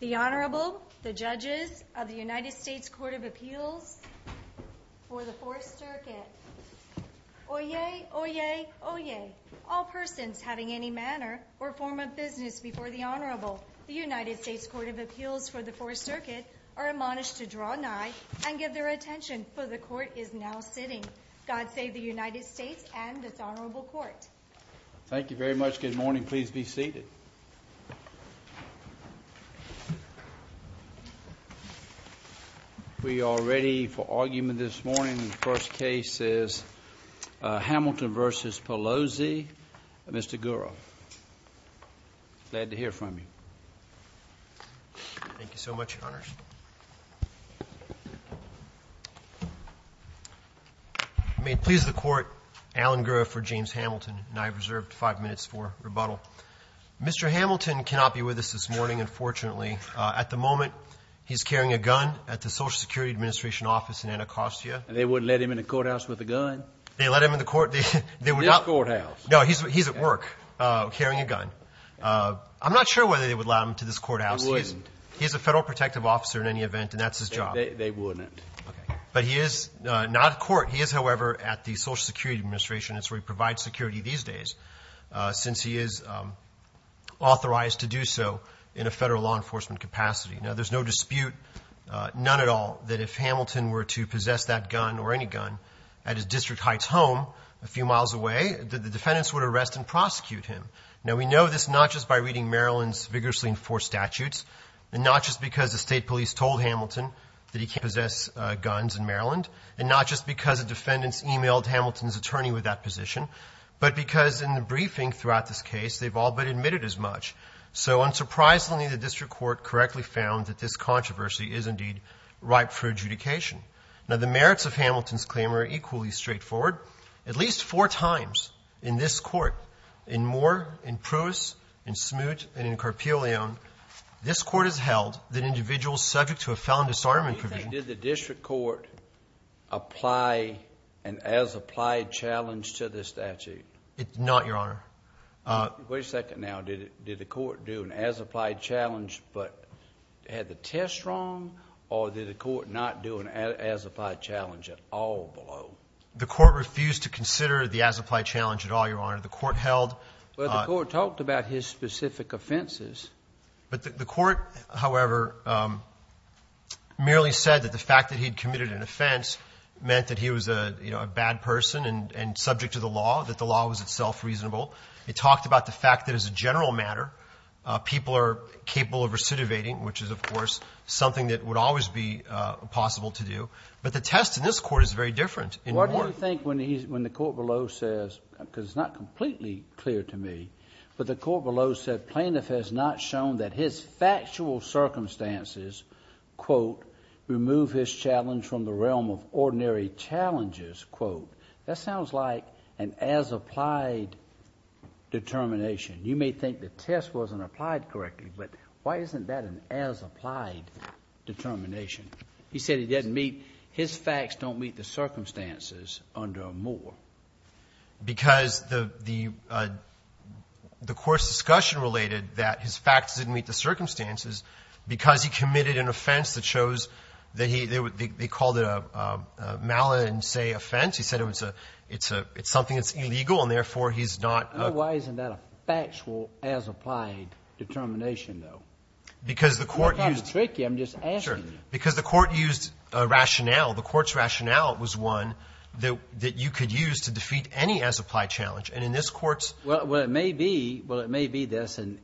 The Honorable, the Judges of the United States Court of Appeals for the Fourth Circuit. Oyez! Oyez! Oyez! All persons having any manner or form of business before the Honorable, the United States Court of Appeals for the Fourth Circuit, are admonished to draw nigh and give their attention, for the Court is now sitting. God save the United States and this Honorable Court. Thank you very much. Good morning. Please be seated. We are ready for argument this morning. The first case is Hamilton v. Pallozzi, Mr. Gura. Glad to hear from you. Thank you so much, Your Honors. May it please the Court, Alan Gura for James Hamilton, and I have reserved five minutes for rebuttal. Mr. Hamilton cannot be with us this morning, unfortunately. At the moment, he's carrying a gun at the Social Security Administration office in Anacostia. They wouldn't let him in the courthouse with a gun? They let him in the court. This courthouse. No, he's at work carrying a gun. I'm not sure whether they would allow him to this courthouse. They wouldn't. He is a federal protective officer in any event, and that's his job. They wouldn't. But he is not in court. He is, however, at the Social Security Administration. That's where he provides security these days, since he is authorized to do so in a federal law enforcement capacity. Now, there's no dispute, none at all, that if Hamilton were to possess that gun or any gun at his district heights home a few miles away, the defendants would arrest and prosecute him. Now, we know this not just by reading Maryland's vigorously enforced statutes, and not just because the state police told Hamilton that he can't possess guns in Maryland, and not just because the defendants emailed Hamilton's attorney with that position, but because in the briefing throughout this case, they've all but admitted as much. So unsurprisingly, the district court correctly found that this controversy is indeed ripe for adjudication. Now, the merits of Hamilton's claim are equally straightforward. At least four times in this court, and more in Pruis, in Smoot, and in Carpeleon, this court has held that individuals subject to a felon disarmament provision. Did the district court apply an as-applied challenge to this statute? It did not, Your Honor. Wait a second now. Did the court do an as-applied challenge but had the test wrong, or did the court not do an as-applied challenge at all below? The court refused to consider the as-applied challenge at all, Your Honor. The court held — Well, the court talked about his specific offenses. But the court, however, merely said that the fact that he had committed an offense meant that he was, you know, a bad person and subject to the law, that the law was itself reasonable. It talked about the fact that as a general matter, people are capable of recidivating, which is, of course, something that would always be possible to do. But the test in this Court is very different. Why do you think when he's — when the court below says, because it's not completely clear to me, but the court below said plaintiff has not shown that his factual circumstances, quote, remove his challenge from the realm of ordinary challenges, quote, that sounds like an as-applied determination. You may think the test wasn't applied correctly, but why isn't that an as-applied determination? He said he didn't meet — his facts don't meet the circumstances under a moor. Because the — the court's discussion related that his facts didn't meet the circumstances because he committed an offense that shows that he — they called it a malin and say offense. He said it was a — it's a — it's something that's illegal, and therefore, he's not a — Well, why isn't that a factual as-applied determination, though? Because the court used — I'm not trying to trick you. I'm just asking you. Sure. Because the court used a rationale. The court's rationale was one that you could use to defeat any as-applied challenge. And in this Court's — Well, it may be — well, it may be that's an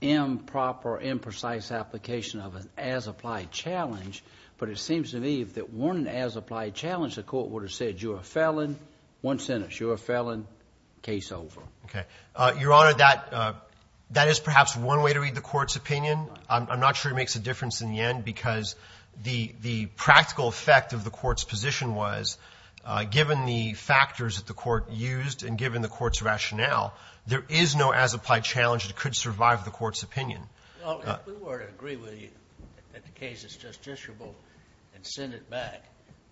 improper, imprecise application of an as-applied challenge, but it seems to me that one as-applied challenge, the court would have said you're a felon, one sentence, you're a felon, case over. Okay. Your Honor, that — that is perhaps one way to read the Court's opinion. I'm not sure it makes a difference in the end because the — the practical effect of the Court's position was, given the factors that the Court used and given the Court's rationale, there is no as-applied challenge that could survive the Court's opinion. Well, if we were to agree with you that the case is justiciable and send it back,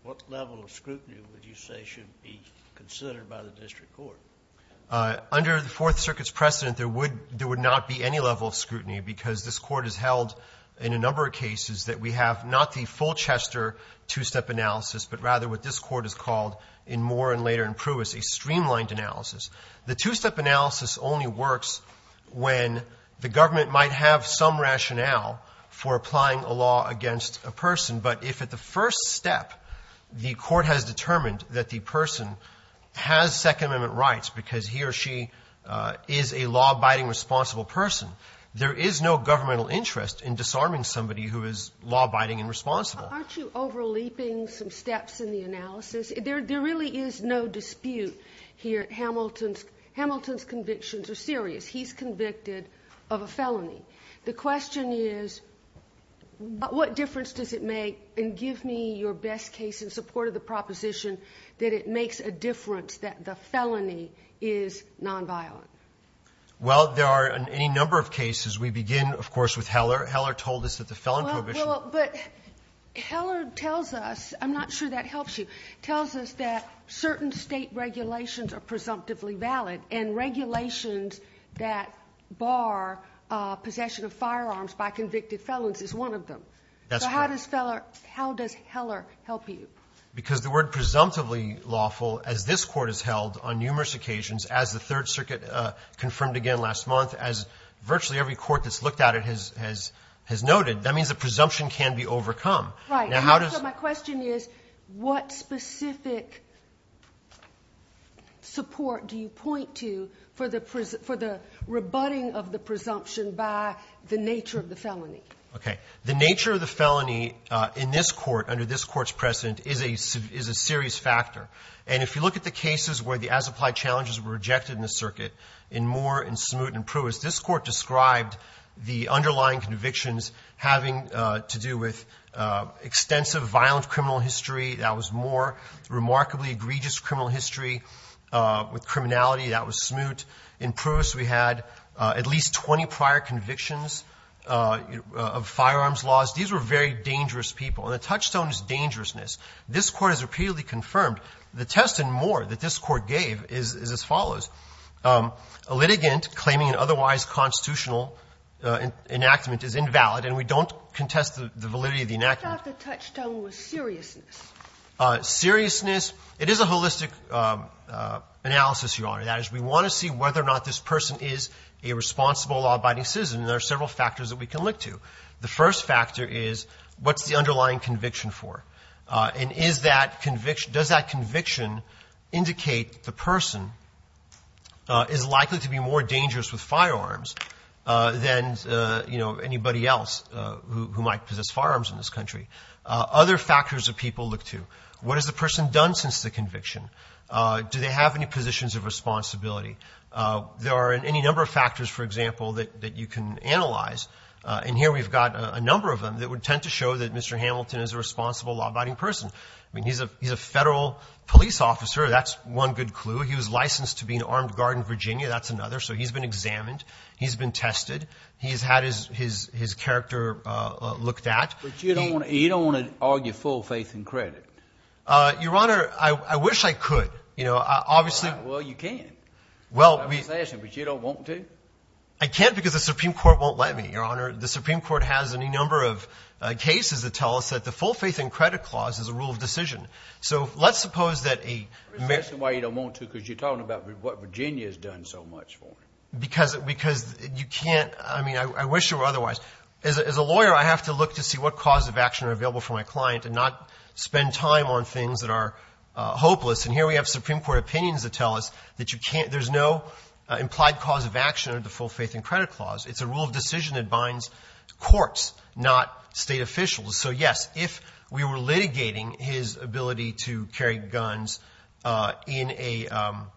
what level of scrutiny would you say should be considered by the district court? Under the Fourth Circuit's precedent, there would — there would not be any level of scrutiny because this Court has held in a number of cases that we have not the Fulchester two-step analysis, but rather what this Court has called in Moore and later in Pruis, a streamlined analysis. The two-step analysis only works when the government might have some rationale for applying a law against a person. But if at the first step the Court has determined that the person has Second Amendment rights because he or she is a law-abiding, responsible person, there is no governmental interest in disarming somebody who is law-abiding and responsible. Aren't you over-leaping some steps in the analysis? There — there really is no dispute here. Hamilton's — Hamilton's convictions are serious. He's convicted of a felony. The question is, what difference does it make? And give me your best case in support of the proposition that it makes a difference that the felony is nonviolent. Well, there are any number of cases. We begin, of course, with Heller. Heller told us that the felon prohibition — Well, but Heller tells us — I'm not sure that helps you — tells us that certain State regulations are presumptively valid, and regulations that bar possession of firearms by convicted felons is one of them. That's correct. So how does Heller help you? Because the word presumptively lawful, as this Court has held on numerous occasions, as the Third Circuit confirmed again last month, as virtually every court that's looked at it has — has noted, that means the presumption can be overcome. Right. So my question is, what specific support do you point to for the — for the rebutting of the presumption by the nature of the felony? Okay. The nature of the felony in this Court, under this Court's precedent, is a — is a serious factor. And if you look at the cases where the as-applied challenges were rejected in the circuit, in Moore, in Smoot, and Pruis, this Court described the underlying convictions having to do with extensive violent criminal history. That was Moore. That was Smoot. In Pruis, we had at least 20 prior convictions of firearms laws. These were very dangerous people. And the touchstone is dangerousness. This Court has repeatedly confirmed. The test in Moore that this Court gave is as follows. A litigant claiming an otherwise constitutional enactment is invalid, and we don't contest the validity of the enactment. I thought the touchstone was seriousness. Seriousness. It is a holistic analysis, Your Honor. That is, we want to see whether or not this person is a responsible law-abiding citizen, and there are several factors that we can look to. The first factor is, what's the underlying conviction for? And is that conviction — does that conviction indicate the person is likely to be more dangerous with firearms than, you know, anybody else who might possess firearms in this country? Other factors that people look to, what has the person done since the conviction? Do they have any positions of responsibility? There are any number of factors, for example, that you can analyze, and here we've got a number of them that would tend to show that Mr. Hamilton is a responsible law-abiding person. I mean, he's a Federal police officer. That's one good clue. He was licensed to be an armed guard in Virginia. That's another. So he's been examined. He's been tested. He's had his character looked at. But you don't want to argue full faith and credit. Your Honor, I wish I could. You know, obviously — Well, you can. I was asking, but you don't want to? I can't because the Supreme Court won't let me, Your Honor. The Supreme Court has a number of cases that tell us that the full faith and credit clause is a rule of decision. So let's suppose that a — I'm asking why you don't want to because you're talking about what Virginia has done so much for him. Because you can't — I mean, I wish there were otherwise. As a lawyer, I have to look to see what cause of action are available for my client and not spend time on things that are hopeless. And here we have Supreme Court opinions that tell us that you can't — there's no implied cause of action under the full faith and credit clause. It's a rule of decision that binds courts, not State officials. So, yes, if we were litigating his ability to carry guns in a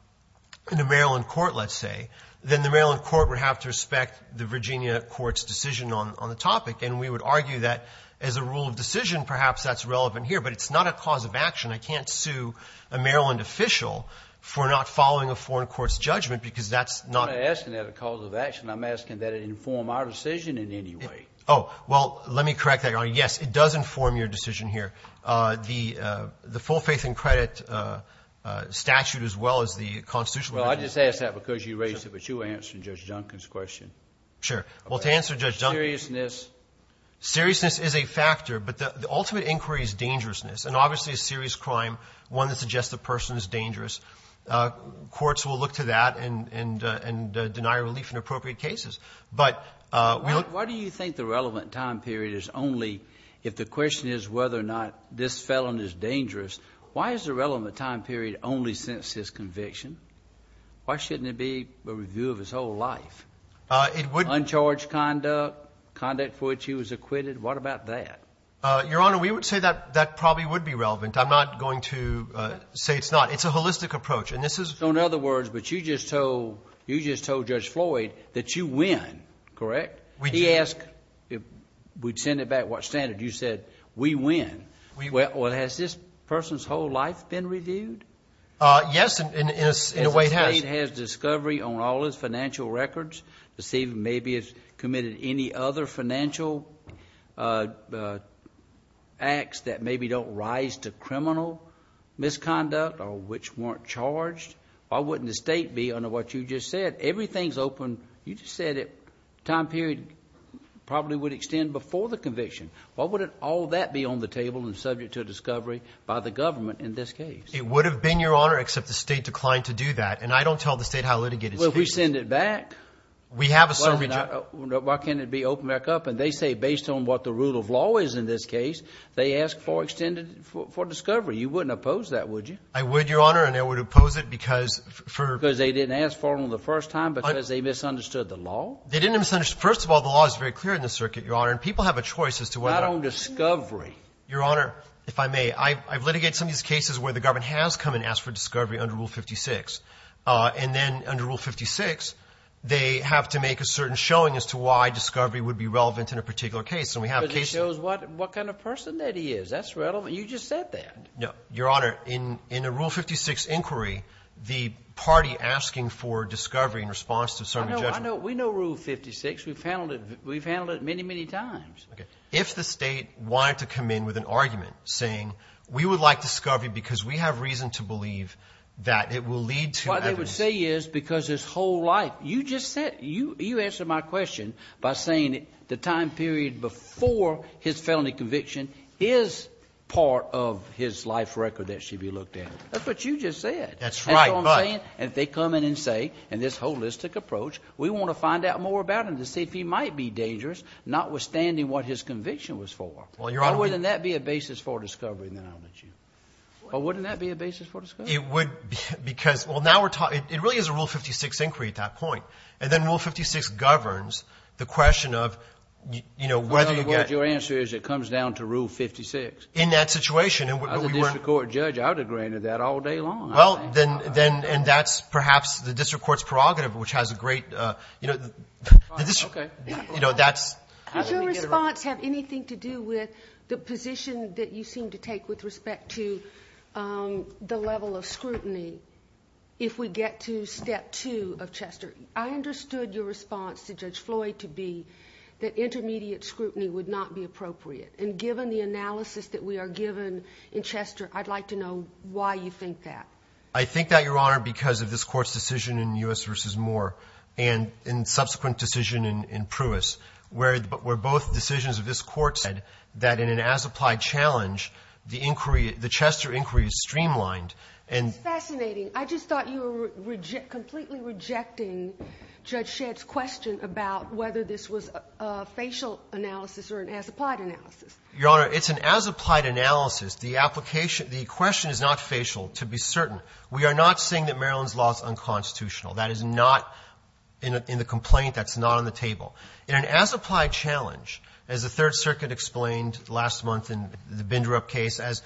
— in a Maryland court, let's say, then the Maryland court would have to respect the Virginia court's decision on the topic. And we would argue that as a rule of decision, perhaps that's relevant here. But it's not a cause of action. I can't sue a Maryland official for not following a foreign court's judgment because that's not — I'm not asking that as a cause of action. I'm asking that it inform our decision in any way. Oh. Well, let me correct that, Your Honor. Yes, it does inform your decision here. The full faith and credit statute as well as the constitutional — Well, I just asked that because you raised it, but you were answering Judge Junkin's question. Sure. Well, to answer Judge Junkin's question — Seriousness. Seriousness is a factor, but the ultimate inquiry is dangerousness. And obviously a serious crime, one that suggests the person is dangerous, courts will look to that and — and deny relief in appropriate cases. But we don't — Why do you think the relevant time period is only — if the question is whether or not this felon is dangerous, why is the relevant time period only since his conviction? Why shouldn't it be a review of his whole life? It would — Uncharged conduct, conduct for which he was acquitted. What about that? Your Honor, we would say that that probably would be relevant. I'm not going to say it's not. It's a holistic approach. And this is — So in other words, but you just told — you just told Judge Floyd that you win, correct? We — He asked — we'd send it back. What standard? You said, we win. We — Well, has this person's whole life been reviewed? Yes, in a way it has. The state has discovery on all his financial records to see if maybe it's committed any other financial acts that maybe don't rise to criminal misconduct or which weren't charged. Why wouldn't the state be under what you just said? Everything's open. You just said it — time period probably would extend before the conviction. Why wouldn't all that be on the table and subject to discovery by the government in this case? It would have been, Your Honor, except the state declined to do that. And I don't tell the state how litigated it is. Well, we send it back. We have a summary — Why can't it be opened back up? And they say based on what the rule of law is in this case, they ask for extended — for discovery. You wouldn't oppose that, would you? I would, Your Honor. And I would oppose it because — Because they didn't ask for it on the first time because they misunderstood the law? They didn't misunderstand. First of all, the law is very clear in this circuit, Your Honor. And people have a choice as to whether — Not on discovery. Your Honor, if I may, I've litigated some of these cases where the government has come and asked for discovery under Rule 56. And then under Rule 56, they have to make a certain showing as to why discovery would be relevant in a particular case. And we have cases — Because it shows what kind of person that he is. That's relevant. You just said that. No. Your Honor, in a Rule 56 inquiry, the party asking for discovery in response to certain judgment — I know. We know Rule 56. We've handled it many, many times. Okay. If the state wanted to come in with an argument saying we would like discovery because we have reason to believe that it will lead to evidence — What they would say is because his whole life — You just said — You answered my question by saying the time period before his felony conviction is part of his life record that should be looked at. That's what you just said. That's right, but — That's what I'm saying. And if they come in and say, in this holistic approach, we want to find out more about him to see if he might be dangerous, notwithstanding what his conviction was for. Well, Your Honor — But wouldn't that be a basis for discovery? It would because — Well, now we're talking — It really is a Rule 56 inquiry at that point. And then Rule 56 governs the question of, you know, whether you get — Your answer is it comes down to Rule 56. In that situation — As a district court judge, I would have granted that all day long. Well, then — And that's perhaps the district court's prerogative, which has a great — Okay. You know, that's — Does your response have anything to do with the position that you seem to take with respect to the level of scrutiny if we get to Step 2 of Chester? I understood your response to Judge Floyd to be that intermediate scrutiny would not be appropriate. And given the analysis that we are given in Chester, I'd like to know why you think that. I think that, Your Honor, because of this Court's decision in U.S. v. Moore and in subsequent decision in Pruess, where both decisions of this Court said that in an as-applied challenge, the inquiry — the Chester inquiry is streamlined, and — That's fascinating. I just thought you were completely rejecting Judge Shedd's question about whether this was a facial analysis or an as-applied analysis. Your Honor, it's an as-applied analysis. The application — the question is not facial, to be certain. We are not saying that Maryland's law is unconstitutional. That is not in the complaint. That's not on the table. In an as-applied challenge, as the Third Circuit explained last month in the Binder Up case, as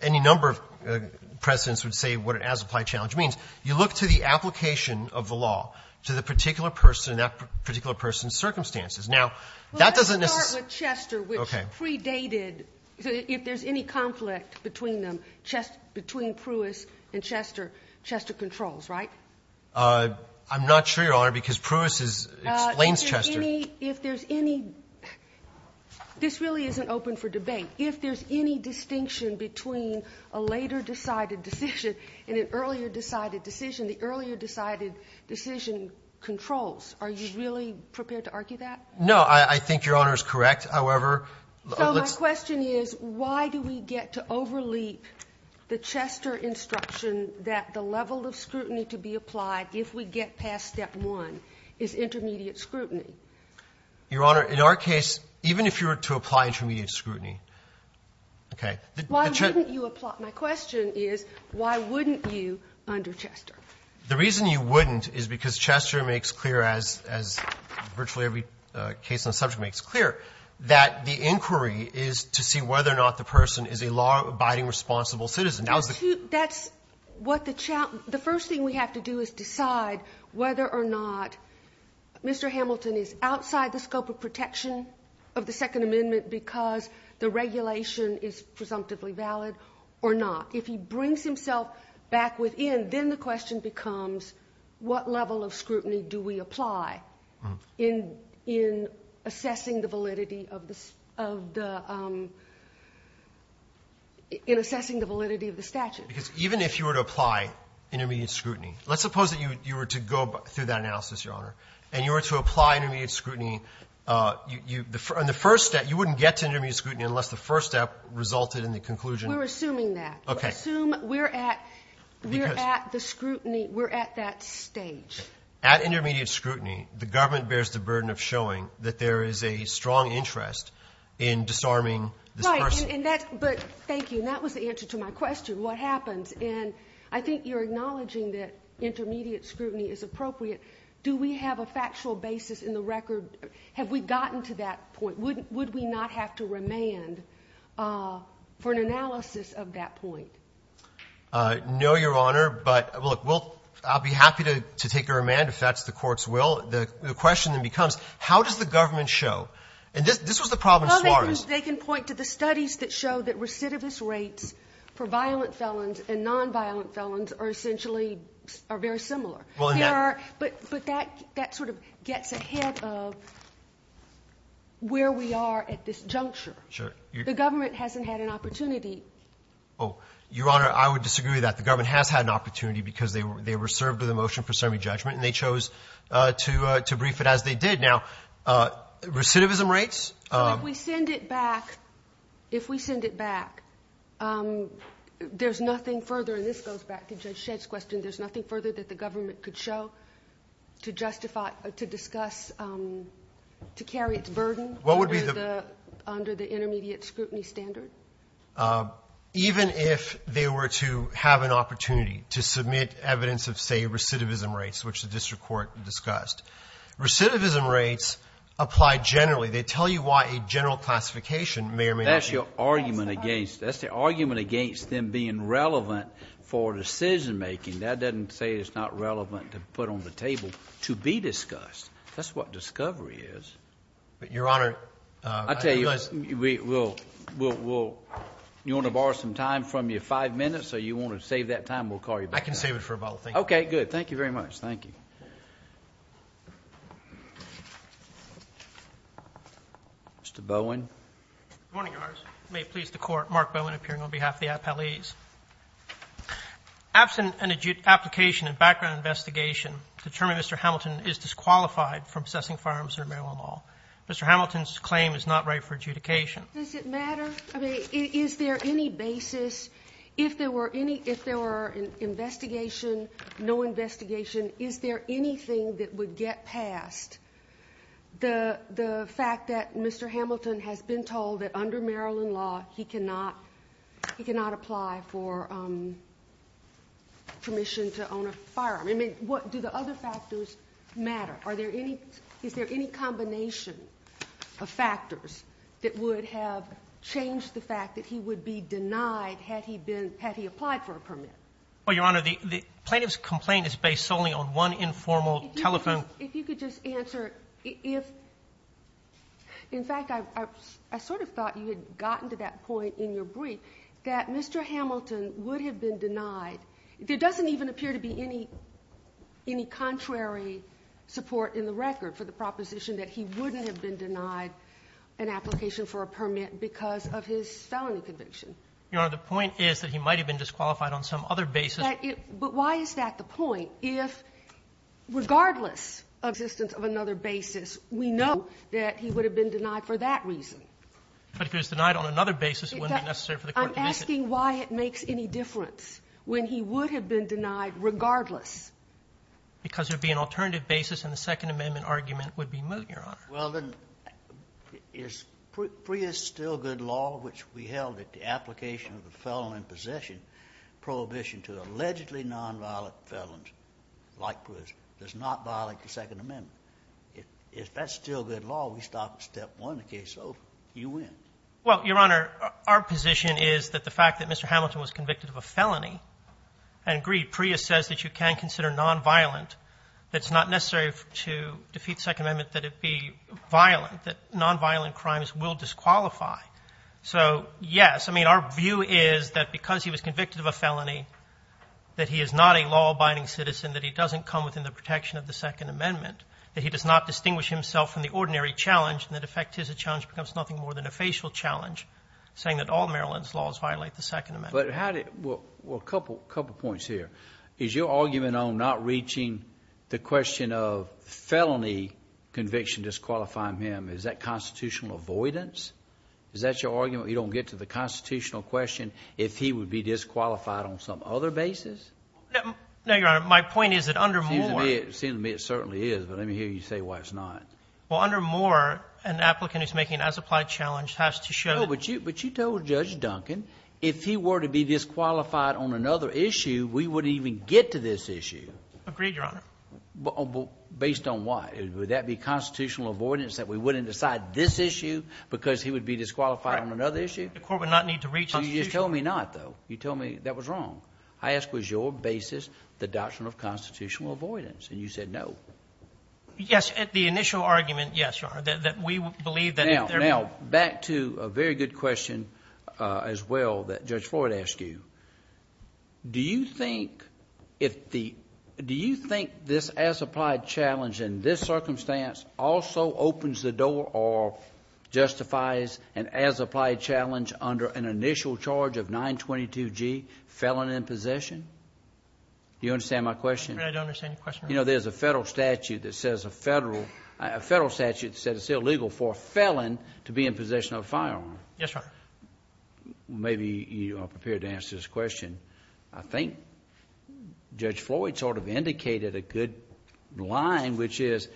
any number of precedents would say what an as-applied challenge means, you look to the application of the law to the particular person and that particular person's circumstances. Now, that doesn't necessarily — Well, let's start with Chester, which predated — Okay. So if there's any conflict between them, between Pruess and Chester, Chester controls, right? I'm not sure, Your Honor, because Pruess is — explains Chester. If there's any — if there's any — this really isn't open for debate. If there's any distinction between a later decided decision and an earlier decided decision, the earlier decided decision controls. Are you really prepared to argue that? No, I think Your Honor is correct. However, let's — So my question is, why do we get to overleap the Chester instruction that the level of scrutiny to be applied if we get past step one is intermediate scrutiny? Your Honor, in our case, even if you were to apply intermediate scrutiny, okay, the — Why wouldn't you apply? My question is, why wouldn't you under Chester? The reason you wouldn't is because Chester makes clear, as virtually every case on the subject makes clear, that the inquiry is to see whether or not the person is a law-abiding, responsible citizen. That was the — That's what the — the first thing we have to do is decide whether or not Mr. Hamilton is outside the scope of protection of the Second Amendment because the regulation is presumptively valid or not. If he brings himself back within, then the question becomes, what level of scrutiny do we apply in assessing the validity of the — in assessing the validity of the statute? Because even if you were to apply intermediate scrutiny, let's suppose that you were to go through that analysis, Your Honor, and you were to apply intermediate scrutiny, you — on the first step, you wouldn't get to intermediate scrutiny unless the first step resulted in the conclusion — We're assuming that. Okay. We assume we're at — Because — We're at the scrutiny. We're at that stage. Okay. At intermediate scrutiny, the government bears the burden of showing that there is a strong interest in disarming this person. Right. And that's — but thank you. And that was the answer to my question, what happens. And I think you're acknowledging that intermediate scrutiny is appropriate. Do we have a factual basis in the record? Have we gotten to that point? Would we not have to remand for an analysis of that point? No, Your Honor. But look, we'll — I'll be happy to take a remand if that's the Court's will. The question then becomes, how does the government show? And this was the problem in Suarez. They can point to the studies that show that recidivist rates for violent felons and nonviolent felons are essentially — are very similar. Well, in that — But that sort of gets ahead of where we are at this juncture. Sure. The government hasn't had an opportunity. Oh, Your Honor, I would disagree with that. The government has had an opportunity because they were served with a motion for semi-judgment, and they chose to brief it as they did. Now, recidivism rates — So if we send it back — if we send it back, there's nothing further — and this goes back to Judge Shedd's question — there's nothing further that the government could show to justify — to discuss — to carry its burden under the intermediate scrutiny standard? Even if they were to have an opportunity to submit evidence of, say, recidivism rates, which the district court discussed, recidivism rates apply generally. They tell you why a general classification may or may not be — That's your argument against — that's the argument against them being relevant for decision-making. That doesn't say it's not relevant to put on the table to be discussed. That's what discovery is. But, Your Honor — I tell you, we'll — you want to borrow some time from your five minutes, or you want to save that time? We'll call you back. I can save it for about a — Okay, good. Thank you very much. Thank you. Mr. Bowen. Good morning, Your Honor. I may please the Court. Mark Bowen, appearing on behalf of the appellees. Absent an application and background investigation to determine Mr. Hamilton is disqualified from possessing firearms under Maryland law, Mr. Hamilton's claim is not right for adjudication. Does it matter? I mean, is there any basis? If there were any — if there were an investigation, no investigation, is there anything that would get passed? The fact that Mr. Hamilton has been told that under Maryland law he cannot apply for permission to own a firearm. I mean, do the other factors matter? Are there any — is there any combination of factors that would have changed the fact that he would be denied had he been — had he applied for a permit? Well, Your Honor, the plaintiff's complaint is based solely on one informal telephone — If you could just answer if — in fact, I sort of thought you had gotten to that point in your brief that Mr. Hamilton would have been denied. There doesn't even appear to be any contrary support in the record for the proposition that he wouldn't have been denied an application for a permit because of his felony conviction. Your Honor, the point is that he might have been disqualified on some other basis. But why is that the point? Well, if regardless of the existence of another basis, we know that he would have been denied for that reason. But if he was denied on another basis, it wouldn't be necessary for the court to make it. I'm asking why it makes any difference when he would have been denied regardless. Because there would be an alternative basis, and the Second Amendment argument would be moot, Your Honor. Well, then, is Prius still good law, which we held that the application of the felon in possession prohibition to allegedly nonviolent felons like Prius does not violate the Second Amendment? If that's still good law, we stop at step one in the case, so you win. Well, Your Honor, our position is that the fact that Mr. Hamilton was convicted of a felony, and, agreed, Prius says that you can consider nonviolent, that it's not necessary to defeat the Second Amendment that it be violent, that nonviolent crimes will disqualify. So, yes. I mean, our view is that because he was convicted of a felony, that he is not a law-abiding citizen, that he doesn't come within the protection of the Second Amendment, that he does not distinguish himself from the ordinary challenge, and that, in effect, his challenge becomes nothing more than a facial challenge, saying that all Maryland's laws violate the Second Amendment. But how did – well, a couple points here. Is your argument on not reaching the question of felony conviction disqualifying him, is that constitutional avoidance? Is that your argument that you don't get to the constitutional question if he would be disqualified on some other basis? No, Your Honor. My point is that under Moore— It seems to me it certainly is, but let me hear you say why it's not. Well, under Moore, an applicant who's making an as-applied challenge has to show— No, but you told Judge Duncan if he were to be disqualified on another issue, we wouldn't even get to this issue. Agreed, Your Honor. Based on what? Would that be constitutional avoidance that we wouldn't decide this issue because he would be disqualified on another issue? The court would not need to reach constitutional— You just told me not, though. You told me that was wrong. I asked was your basis the doctrine of constitutional avoidance, and you said no. Yes, the initial argument, yes, Your Honor, that we believe that if there— Now, back to a very good question as well that Judge Floyd asked you. Do you think this as-applied challenge in this circumstance also opens the door or justifies an as-applied challenge under an initial charge of 922G, felon in possession? Do you understand my question? I don't understand your question, Your Honor. You know, there's a Federal statute that says it's illegal for a felon to be in possession of a firearm. Yes, Your Honor. Maybe you are prepared to answer this question. I think Judge Floyd sort of indicated a good line, which is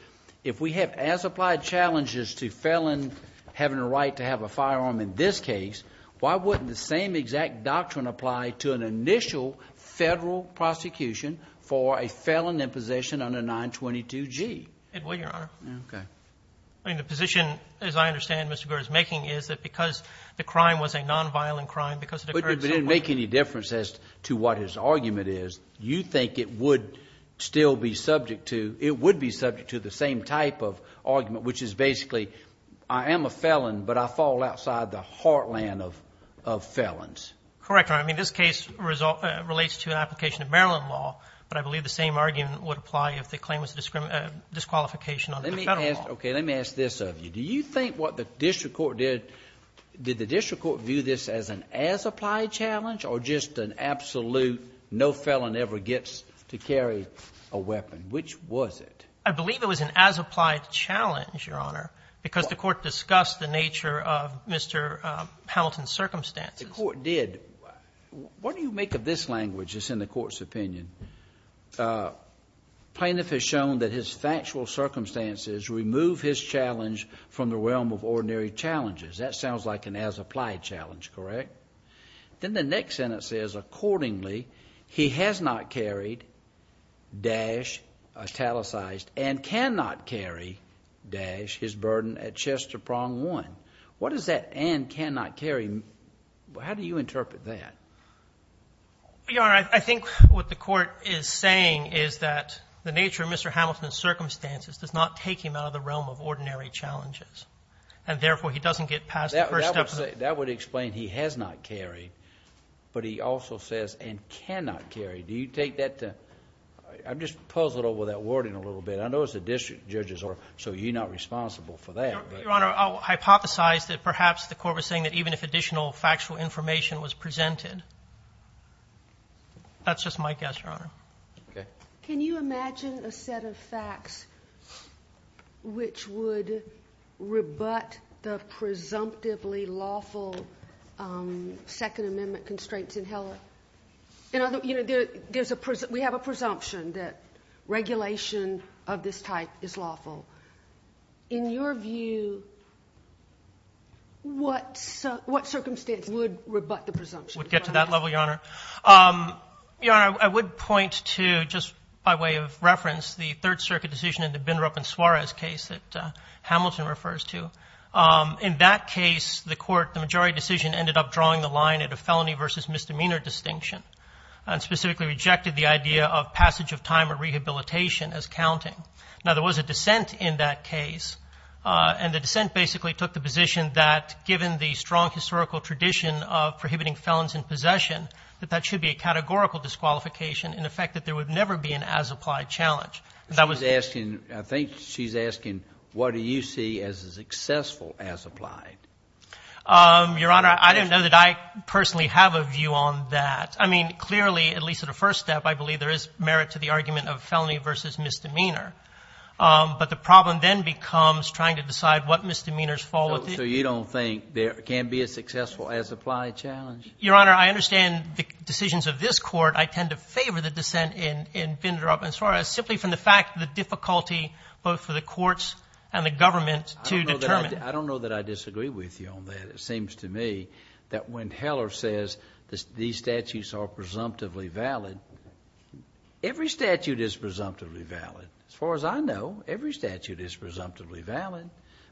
if we have as-applied challenges to felon having a right to have a firearm in this case, why wouldn't the same exact doctrine apply to an initial Federal prosecution for a felon in possession under 922G? It would, Your Honor. Okay. I mean, the position, as I understand Mr. Guerra's making, is that because the crime was a nonviolent crime, because it occurred so— But it didn't make any difference as to what his argument is. You think it would still be subject to—it would be subject to the same type of argument, which is basically I am a felon, but I fall outside the heartland of felons. Correct, Your Honor. I mean, this case relates to an application of Maryland law, but I believe the same argument would apply if the claim was a disqualification under Federal law. Let me ask this of you. Do you think what the district court did, did the district court view this as an as-applied challenge or just an absolute no felon ever gets to carry a weapon? Which was it? I believe it was an as-applied challenge, Your Honor, because the court discussed the nature of Mr. Hamilton's circumstances. The court did. What do you make of this language that's in the court's opinion? Plaintiff has shown that his factual circumstances remove his challenge from the realm of ordinary challenges. That sounds like an as-applied challenge, correct? Then the next sentence says, Accordingly, he has not carried dash italicized and cannot carry dash his burden at Chester Prong 1. What is that and cannot carry? How do you interpret that? Your Honor, I think what the court is saying is that the nature of Mr. Hamilton's circumstances does not take him out of the realm of ordinary challenges, and therefore he doesn't get past the first step. That would explain he has not carried, but he also says and cannot carry. Do you take that to – I'm just puzzled over that wording a little bit. I know it's the district judges, so you're not responsible for that. Your Honor, I'll hypothesize that perhaps the court was saying that even if additional factual information was presented. That's just my guess, Your Honor. Okay. Can you imagine a set of facts which would rebut the presumptively lawful Second Amendment constraints in Heller? You know, there's a – we have a presumption that regulation of this type is lawful. In your view, what circumstance would rebut the presumption? Would get to that level, Your Honor. Your Honor, I would point to, just by way of reference, the Third Circuit decision in the Bindrup and Suarez case that Hamilton refers to. In that case, the court, the majority decision, ended up drawing the line at a felony versus misdemeanor distinction and specifically rejected the idea of passage of time or rehabilitation as counting. Now, there was a dissent in that case. And the dissent basically took the position that, given the strong historical tradition of prohibiting felons in possession, that that should be a categorical disqualification, in effect that there would never be an as-applied challenge. She's asking, I think she's asking, what do you see as a successful as-applied? Your Honor, I don't know that I personally have a view on that. I mean, clearly, at least at a first step, I believe there is merit to the argument of felony versus misdemeanor. But the problem then becomes trying to decide what misdemeanors fall within. So you don't think there can be a successful as-applied challenge? Your Honor, I understand the decisions of this Court. I tend to favor the dissent in Bindrup and Suarez simply from the fact the difficulty both for the courts and the government to determine. I don't know that I disagree with you on that. It seems to me that when Heller says these statutes are presumptively valid, every statute is presumptively valid. As far as I know, every statute is presumptively valid.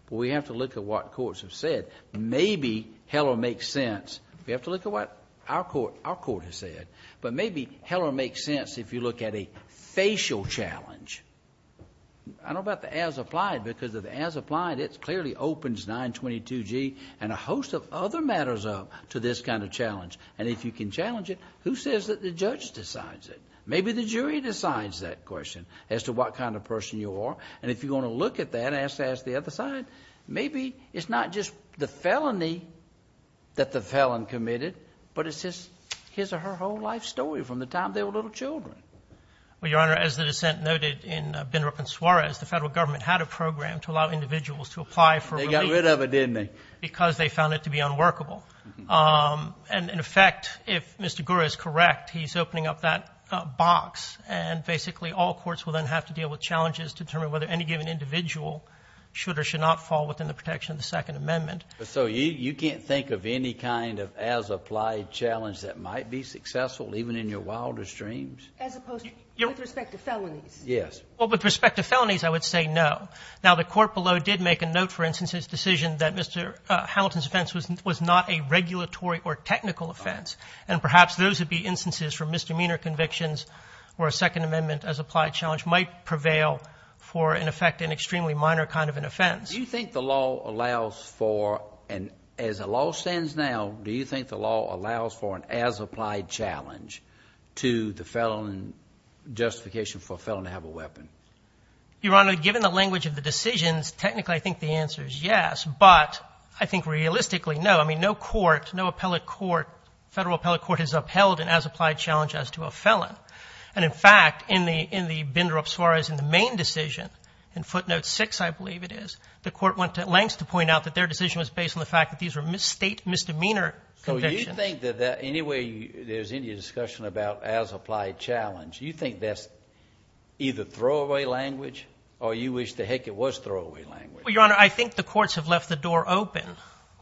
But we have to look at what courts have said. Maybe Heller makes sense. We have to look at what our Court has said. But maybe Heller makes sense if you look at a facial challenge. I don't know about the as-applied because of the as-applied, it clearly opens 922G and a host of other matters up to this kind of challenge. And if you can challenge it, who says that the judge decides it? As to what kind of person you are. And if you want to look at that and ask the other side, maybe it's not just the felony that the felon committed, but it's his or her whole life story from the time they were little children. Well, Your Honor, as the dissent noted in Bindrup and Suarez, the Federal Government had a program to allow individuals to apply for relief. They got rid of it, didn't they? Because they found it to be unworkable. And, in effect, if Mr. Gura is correct, he's opening up that box. And basically all courts will then have to deal with challenges to determine whether any given individual should or should not fall within the protection of the Second Amendment. So you can't think of any kind of as-applied challenge that might be successful even in your wildest dreams? As opposed to with respect to felonies? Yes. Well, with respect to felonies, I would say no. Now, the Court below did make a note, for instance, in its decision that Mr. Hamilton's offense was not a regulatory or technical offense. And perhaps those would be instances for misdemeanor convictions where a Second Amendment as-applied challenge might prevail for, in effect, an extremely minor kind of an offense. Do you think the law allows for, and as the law stands now, do you think the law allows for an as-applied challenge to the felon justification for a felon to have a weapon? Your Honor, given the language of the decisions, technically I think the answer is yes. But I think realistically, no. I mean, no court, no appellate court, federal appellate court has upheld an as-applied challenge as to a felon. And, in fact, in the binder of Suarez in the main decision, in footnote 6, I believe it is, the Court went to lengths to point out that their decision was based on the fact that these were state misdemeanor convictions. So you think that any way there's any discussion about as-applied challenge, you think that's either throwaway language or you wish to heck it was throwaway language? Well, Your Honor, I think the courts have left the door open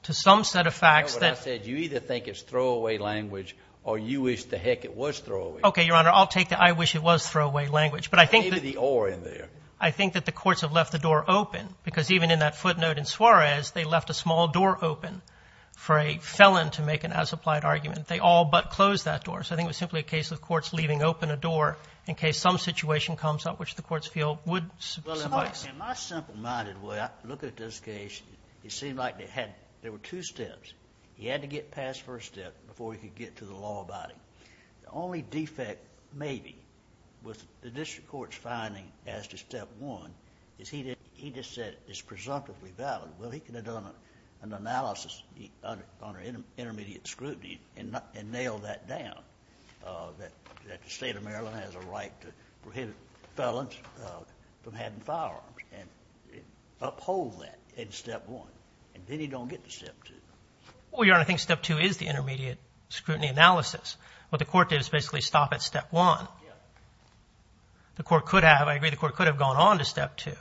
to some set of facts. You know what I said. You either think it's throwaway language or you wish to heck it was throwaway. Okay, Your Honor, I'll take the I wish it was throwaway language. Maybe the or in there. I think that the courts have left the door open, because even in that footnote in Suarez, they left a small door open for a felon to make an as-applied argument. They all but closed that door. So I think it was simply a case of courts leaving open a door in case some situation comes up which the courts feel would suffice. In my simple-minded way, I look at this case. It seemed like there were two steps. He had to get past the first step before he could get to the law about him. The only defect, maybe, with the district court's finding as to step one, is he just said it's presumptively valid. Well, he could have done an analysis under intermediate scrutiny and nailed that down, that the state of Maryland has a right to prohibit felons from having firearms and uphold that in step one. And then he don't get to step two. Well, Your Honor, I think step two is the intermediate scrutiny analysis. What the court did is basically stop at step one. The court could have. I agree the court could have gone on to step two,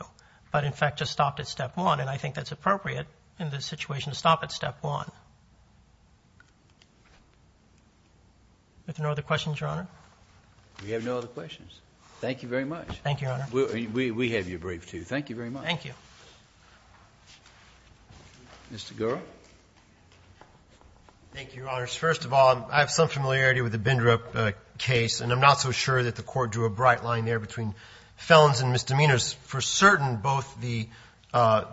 but in fact just stopped at step one. And I think that's appropriate in this situation to stop at step one. Are there no other questions, Your Honor? We have no other questions. Thank you very much. Thank you, Your Honor. We have your brief, too. Thank you very much. Thank you. Mr. Gura. Thank you, Your Honors. First of all, I have some familiarity with the Bindrup case, and I'm not so sure that the court drew a bright line there between felons and misdemeanors. For certain, both the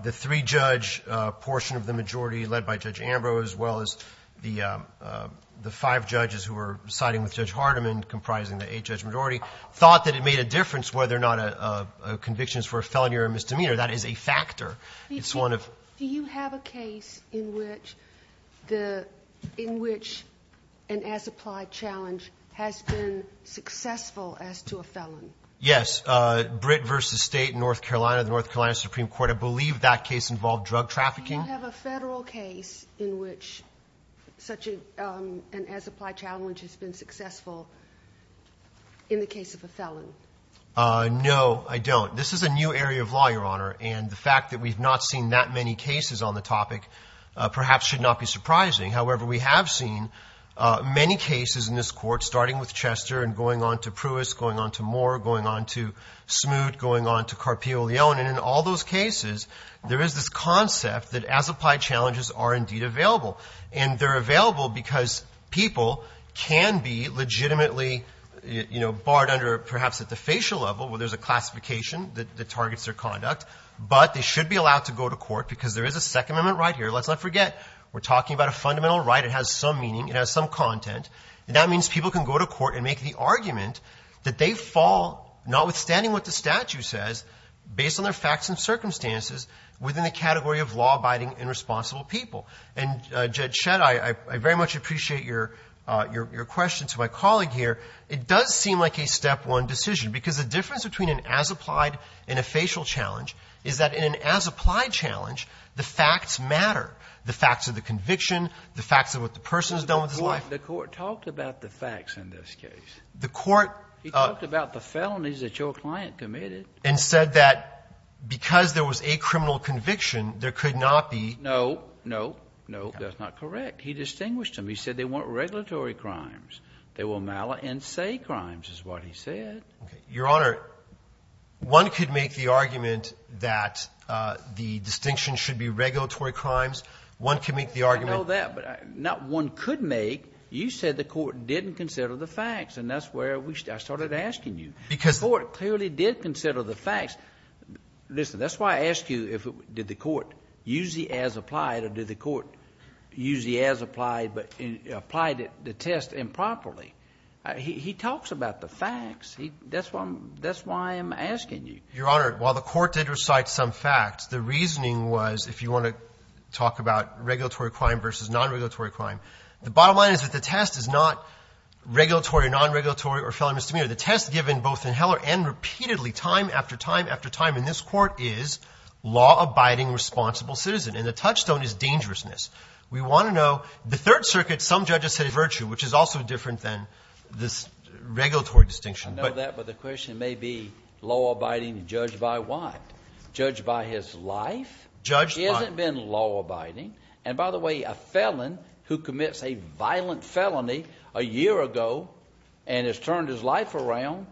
three-judge portion of the majority led by Judge Ambrose as well as the five judges who were siding with Judge Hardiman comprising the eight-judge majority thought that it made a difference whether or not a conviction is for a felony or a misdemeanor. That is a factor. Do you have a case in which an as-applied challenge has been successful as to a felon? Yes, Britt v. State, North Carolina, the North Carolina Supreme Court. I believe that case involved drug trafficking. Do you have a federal case in which such an as-applied challenge has been successful in the case of a felon? No, I don't. This is a new area of law, Your Honor, and the fact that we've not seen that many cases on the topic perhaps should not be surprising. However, we have seen many cases in this court, starting with Chester and going on to Pruis, going on to Moore, going on to Smoot, going on to Carpio Leone, and in all those cases there is this concept that as-applied challenges are indeed available. And they're available because people can be legitimately, you know, barred under perhaps at the facial level, where there's a classification that targets their conduct, but they should be allowed to go to court because there is a Second Amendment right here. Let's not forget we're talking about a fundamental right. It has some meaning. It has some content. And that means people can go to court and make the argument that they fall, notwithstanding what the statute says, based on their facts and circumstances, within the category of law-abiding and responsible people. And, Judge Shedd, I very much appreciate your question to my colleague here. It does seem like a step one decision because the difference between an as-applied and a facial challenge is that in an as-applied challenge, the facts matter, the facts of the conviction, the facts of what the person has done with his life. The court talked about the facts in this case. The court – He talked about the felonies that your client committed. And said that because there was a criminal conviction, there could not be – No. No. No, that's not correct. He distinguished them. He said they weren't regulatory crimes. They were mala and say crimes is what he said. Okay. Your Honor, one could make the argument that the distinction should be regulatory crimes. One can make the argument – I know that. But not one could make – you said the court didn't consider the facts. And that's where I started asking you. Because – The court clearly did consider the facts. Listen, that's why I asked you if – did the court use the as-applied or did the court use the as-applied but applied the test improperly? He talks about the facts. That's why I'm asking you. Your Honor, while the court did recite some facts, the reasoning was if you want to talk about regulatory crime versus non-regulatory crime, the bottom line is that the test is not regulatory or non-regulatory or felony misdemeanor. The test given both in Heller and repeatedly time after time after time in this court is law-abiding responsible citizen. And the touchstone is dangerousness. We want to know – the Third Circuit, some judges had a virtue, which is also different than this regulatory distinction. I know that. But the question may be law-abiding and judged by what? Judged by his life? Judged by – He hasn't been law-abiding. And by the way, a felon who commits a violent felony a year ago and has turned his life around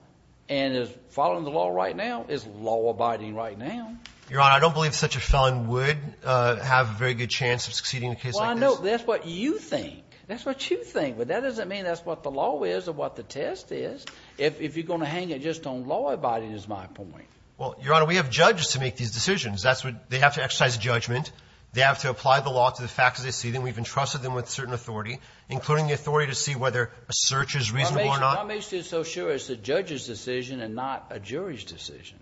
and is following the law right now is law-abiding right now. Your Honor, I don't believe such a felon would have a very good chance of succeeding in a case like this. Well, I know. That's what you think. That's what you think. But that doesn't mean that's what the law is or what the test is. If you're going to hang it just on law-abiding is my point. Well, Your Honor, we have judges to make these decisions. That's what – they have to exercise judgment. They have to apply the law to the facts as they see them. We've entrusted them with certain authority, including the authority to see whether a search is reasonable or not. I'm just so sure it's the judge's decision and not a jury's decision.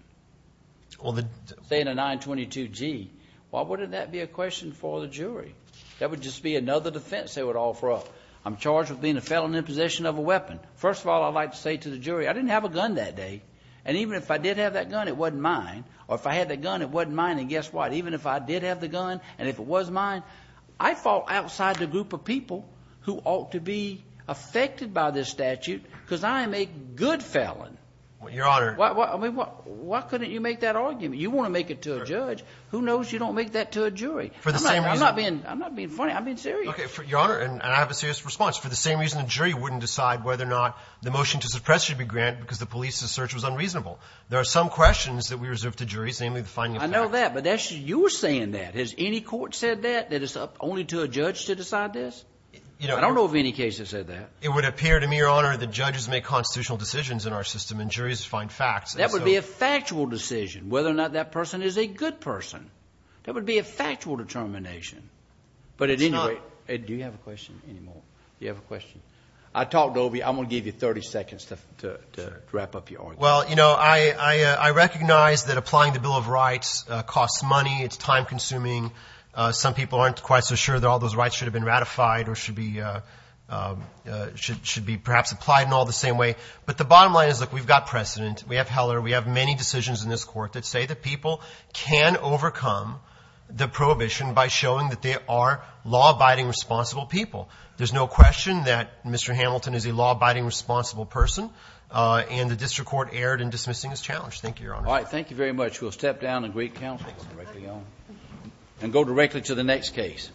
Well, the – Say in a 922G, why wouldn't that be a question for the jury? That would just be another defense they would offer up. I'm charged with being a felon in possession of a weapon. First of all, I'd like to say to the jury, I didn't have a gun that day. And even if I did have that gun, it wasn't mine. Or if I had that gun, it wasn't mine. And guess what? Even if I did have the gun and if it was mine, I fall outside the group of people who ought to be affected by this statute because I am a good felon. Well, Your Honor – I mean, why couldn't you make that argument? You want to make it to a judge. Who knows you don't make that to a jury? For the same reason – I'm not being – I'm not being funny. I'm being serious. Okay. Your Honor, and I have a serious response. For the same reason the jury wouldn't decide whether or not the motion to suppress should be granted because the police's search was unreasonable. There are some questions that we reserve to juries, namely the finding of facts. I know that, but that's – you were saying that. Has any court said that, that it's up only to a judge to decide this? I don't know of any case that said that. It would appear to me, Your Honor, that judges make constitutional decisions in our system and juries find facts. That would be a factual decision whether or not that person is a good person. That would be a factual determination. But at any rate – It's not – Do you have a question anymore? Do you have a question? I talked over you. I'm going to give you 30 seconds to wrap up your argument. Well, you know, I recognize that applying the Bill of Rights costs money. It's time-consuming. Some people aren't quite so sure that all those rights should have been ratified or should be perhaps applied in all the same way. But the bottom line is, look, we've got precedent. We have Heller. We have many decisions in this court that say that people can overcome the prohibition by showing that they are law-abiding, responsible people. There's no question that Mr. Hamilton is a law-abiding, responsible person, and the district court erred in dismissing his challenge. Thank you, Your Honor. All right. Thank you very much. We'll step down and greet counsel and go directly to the next case.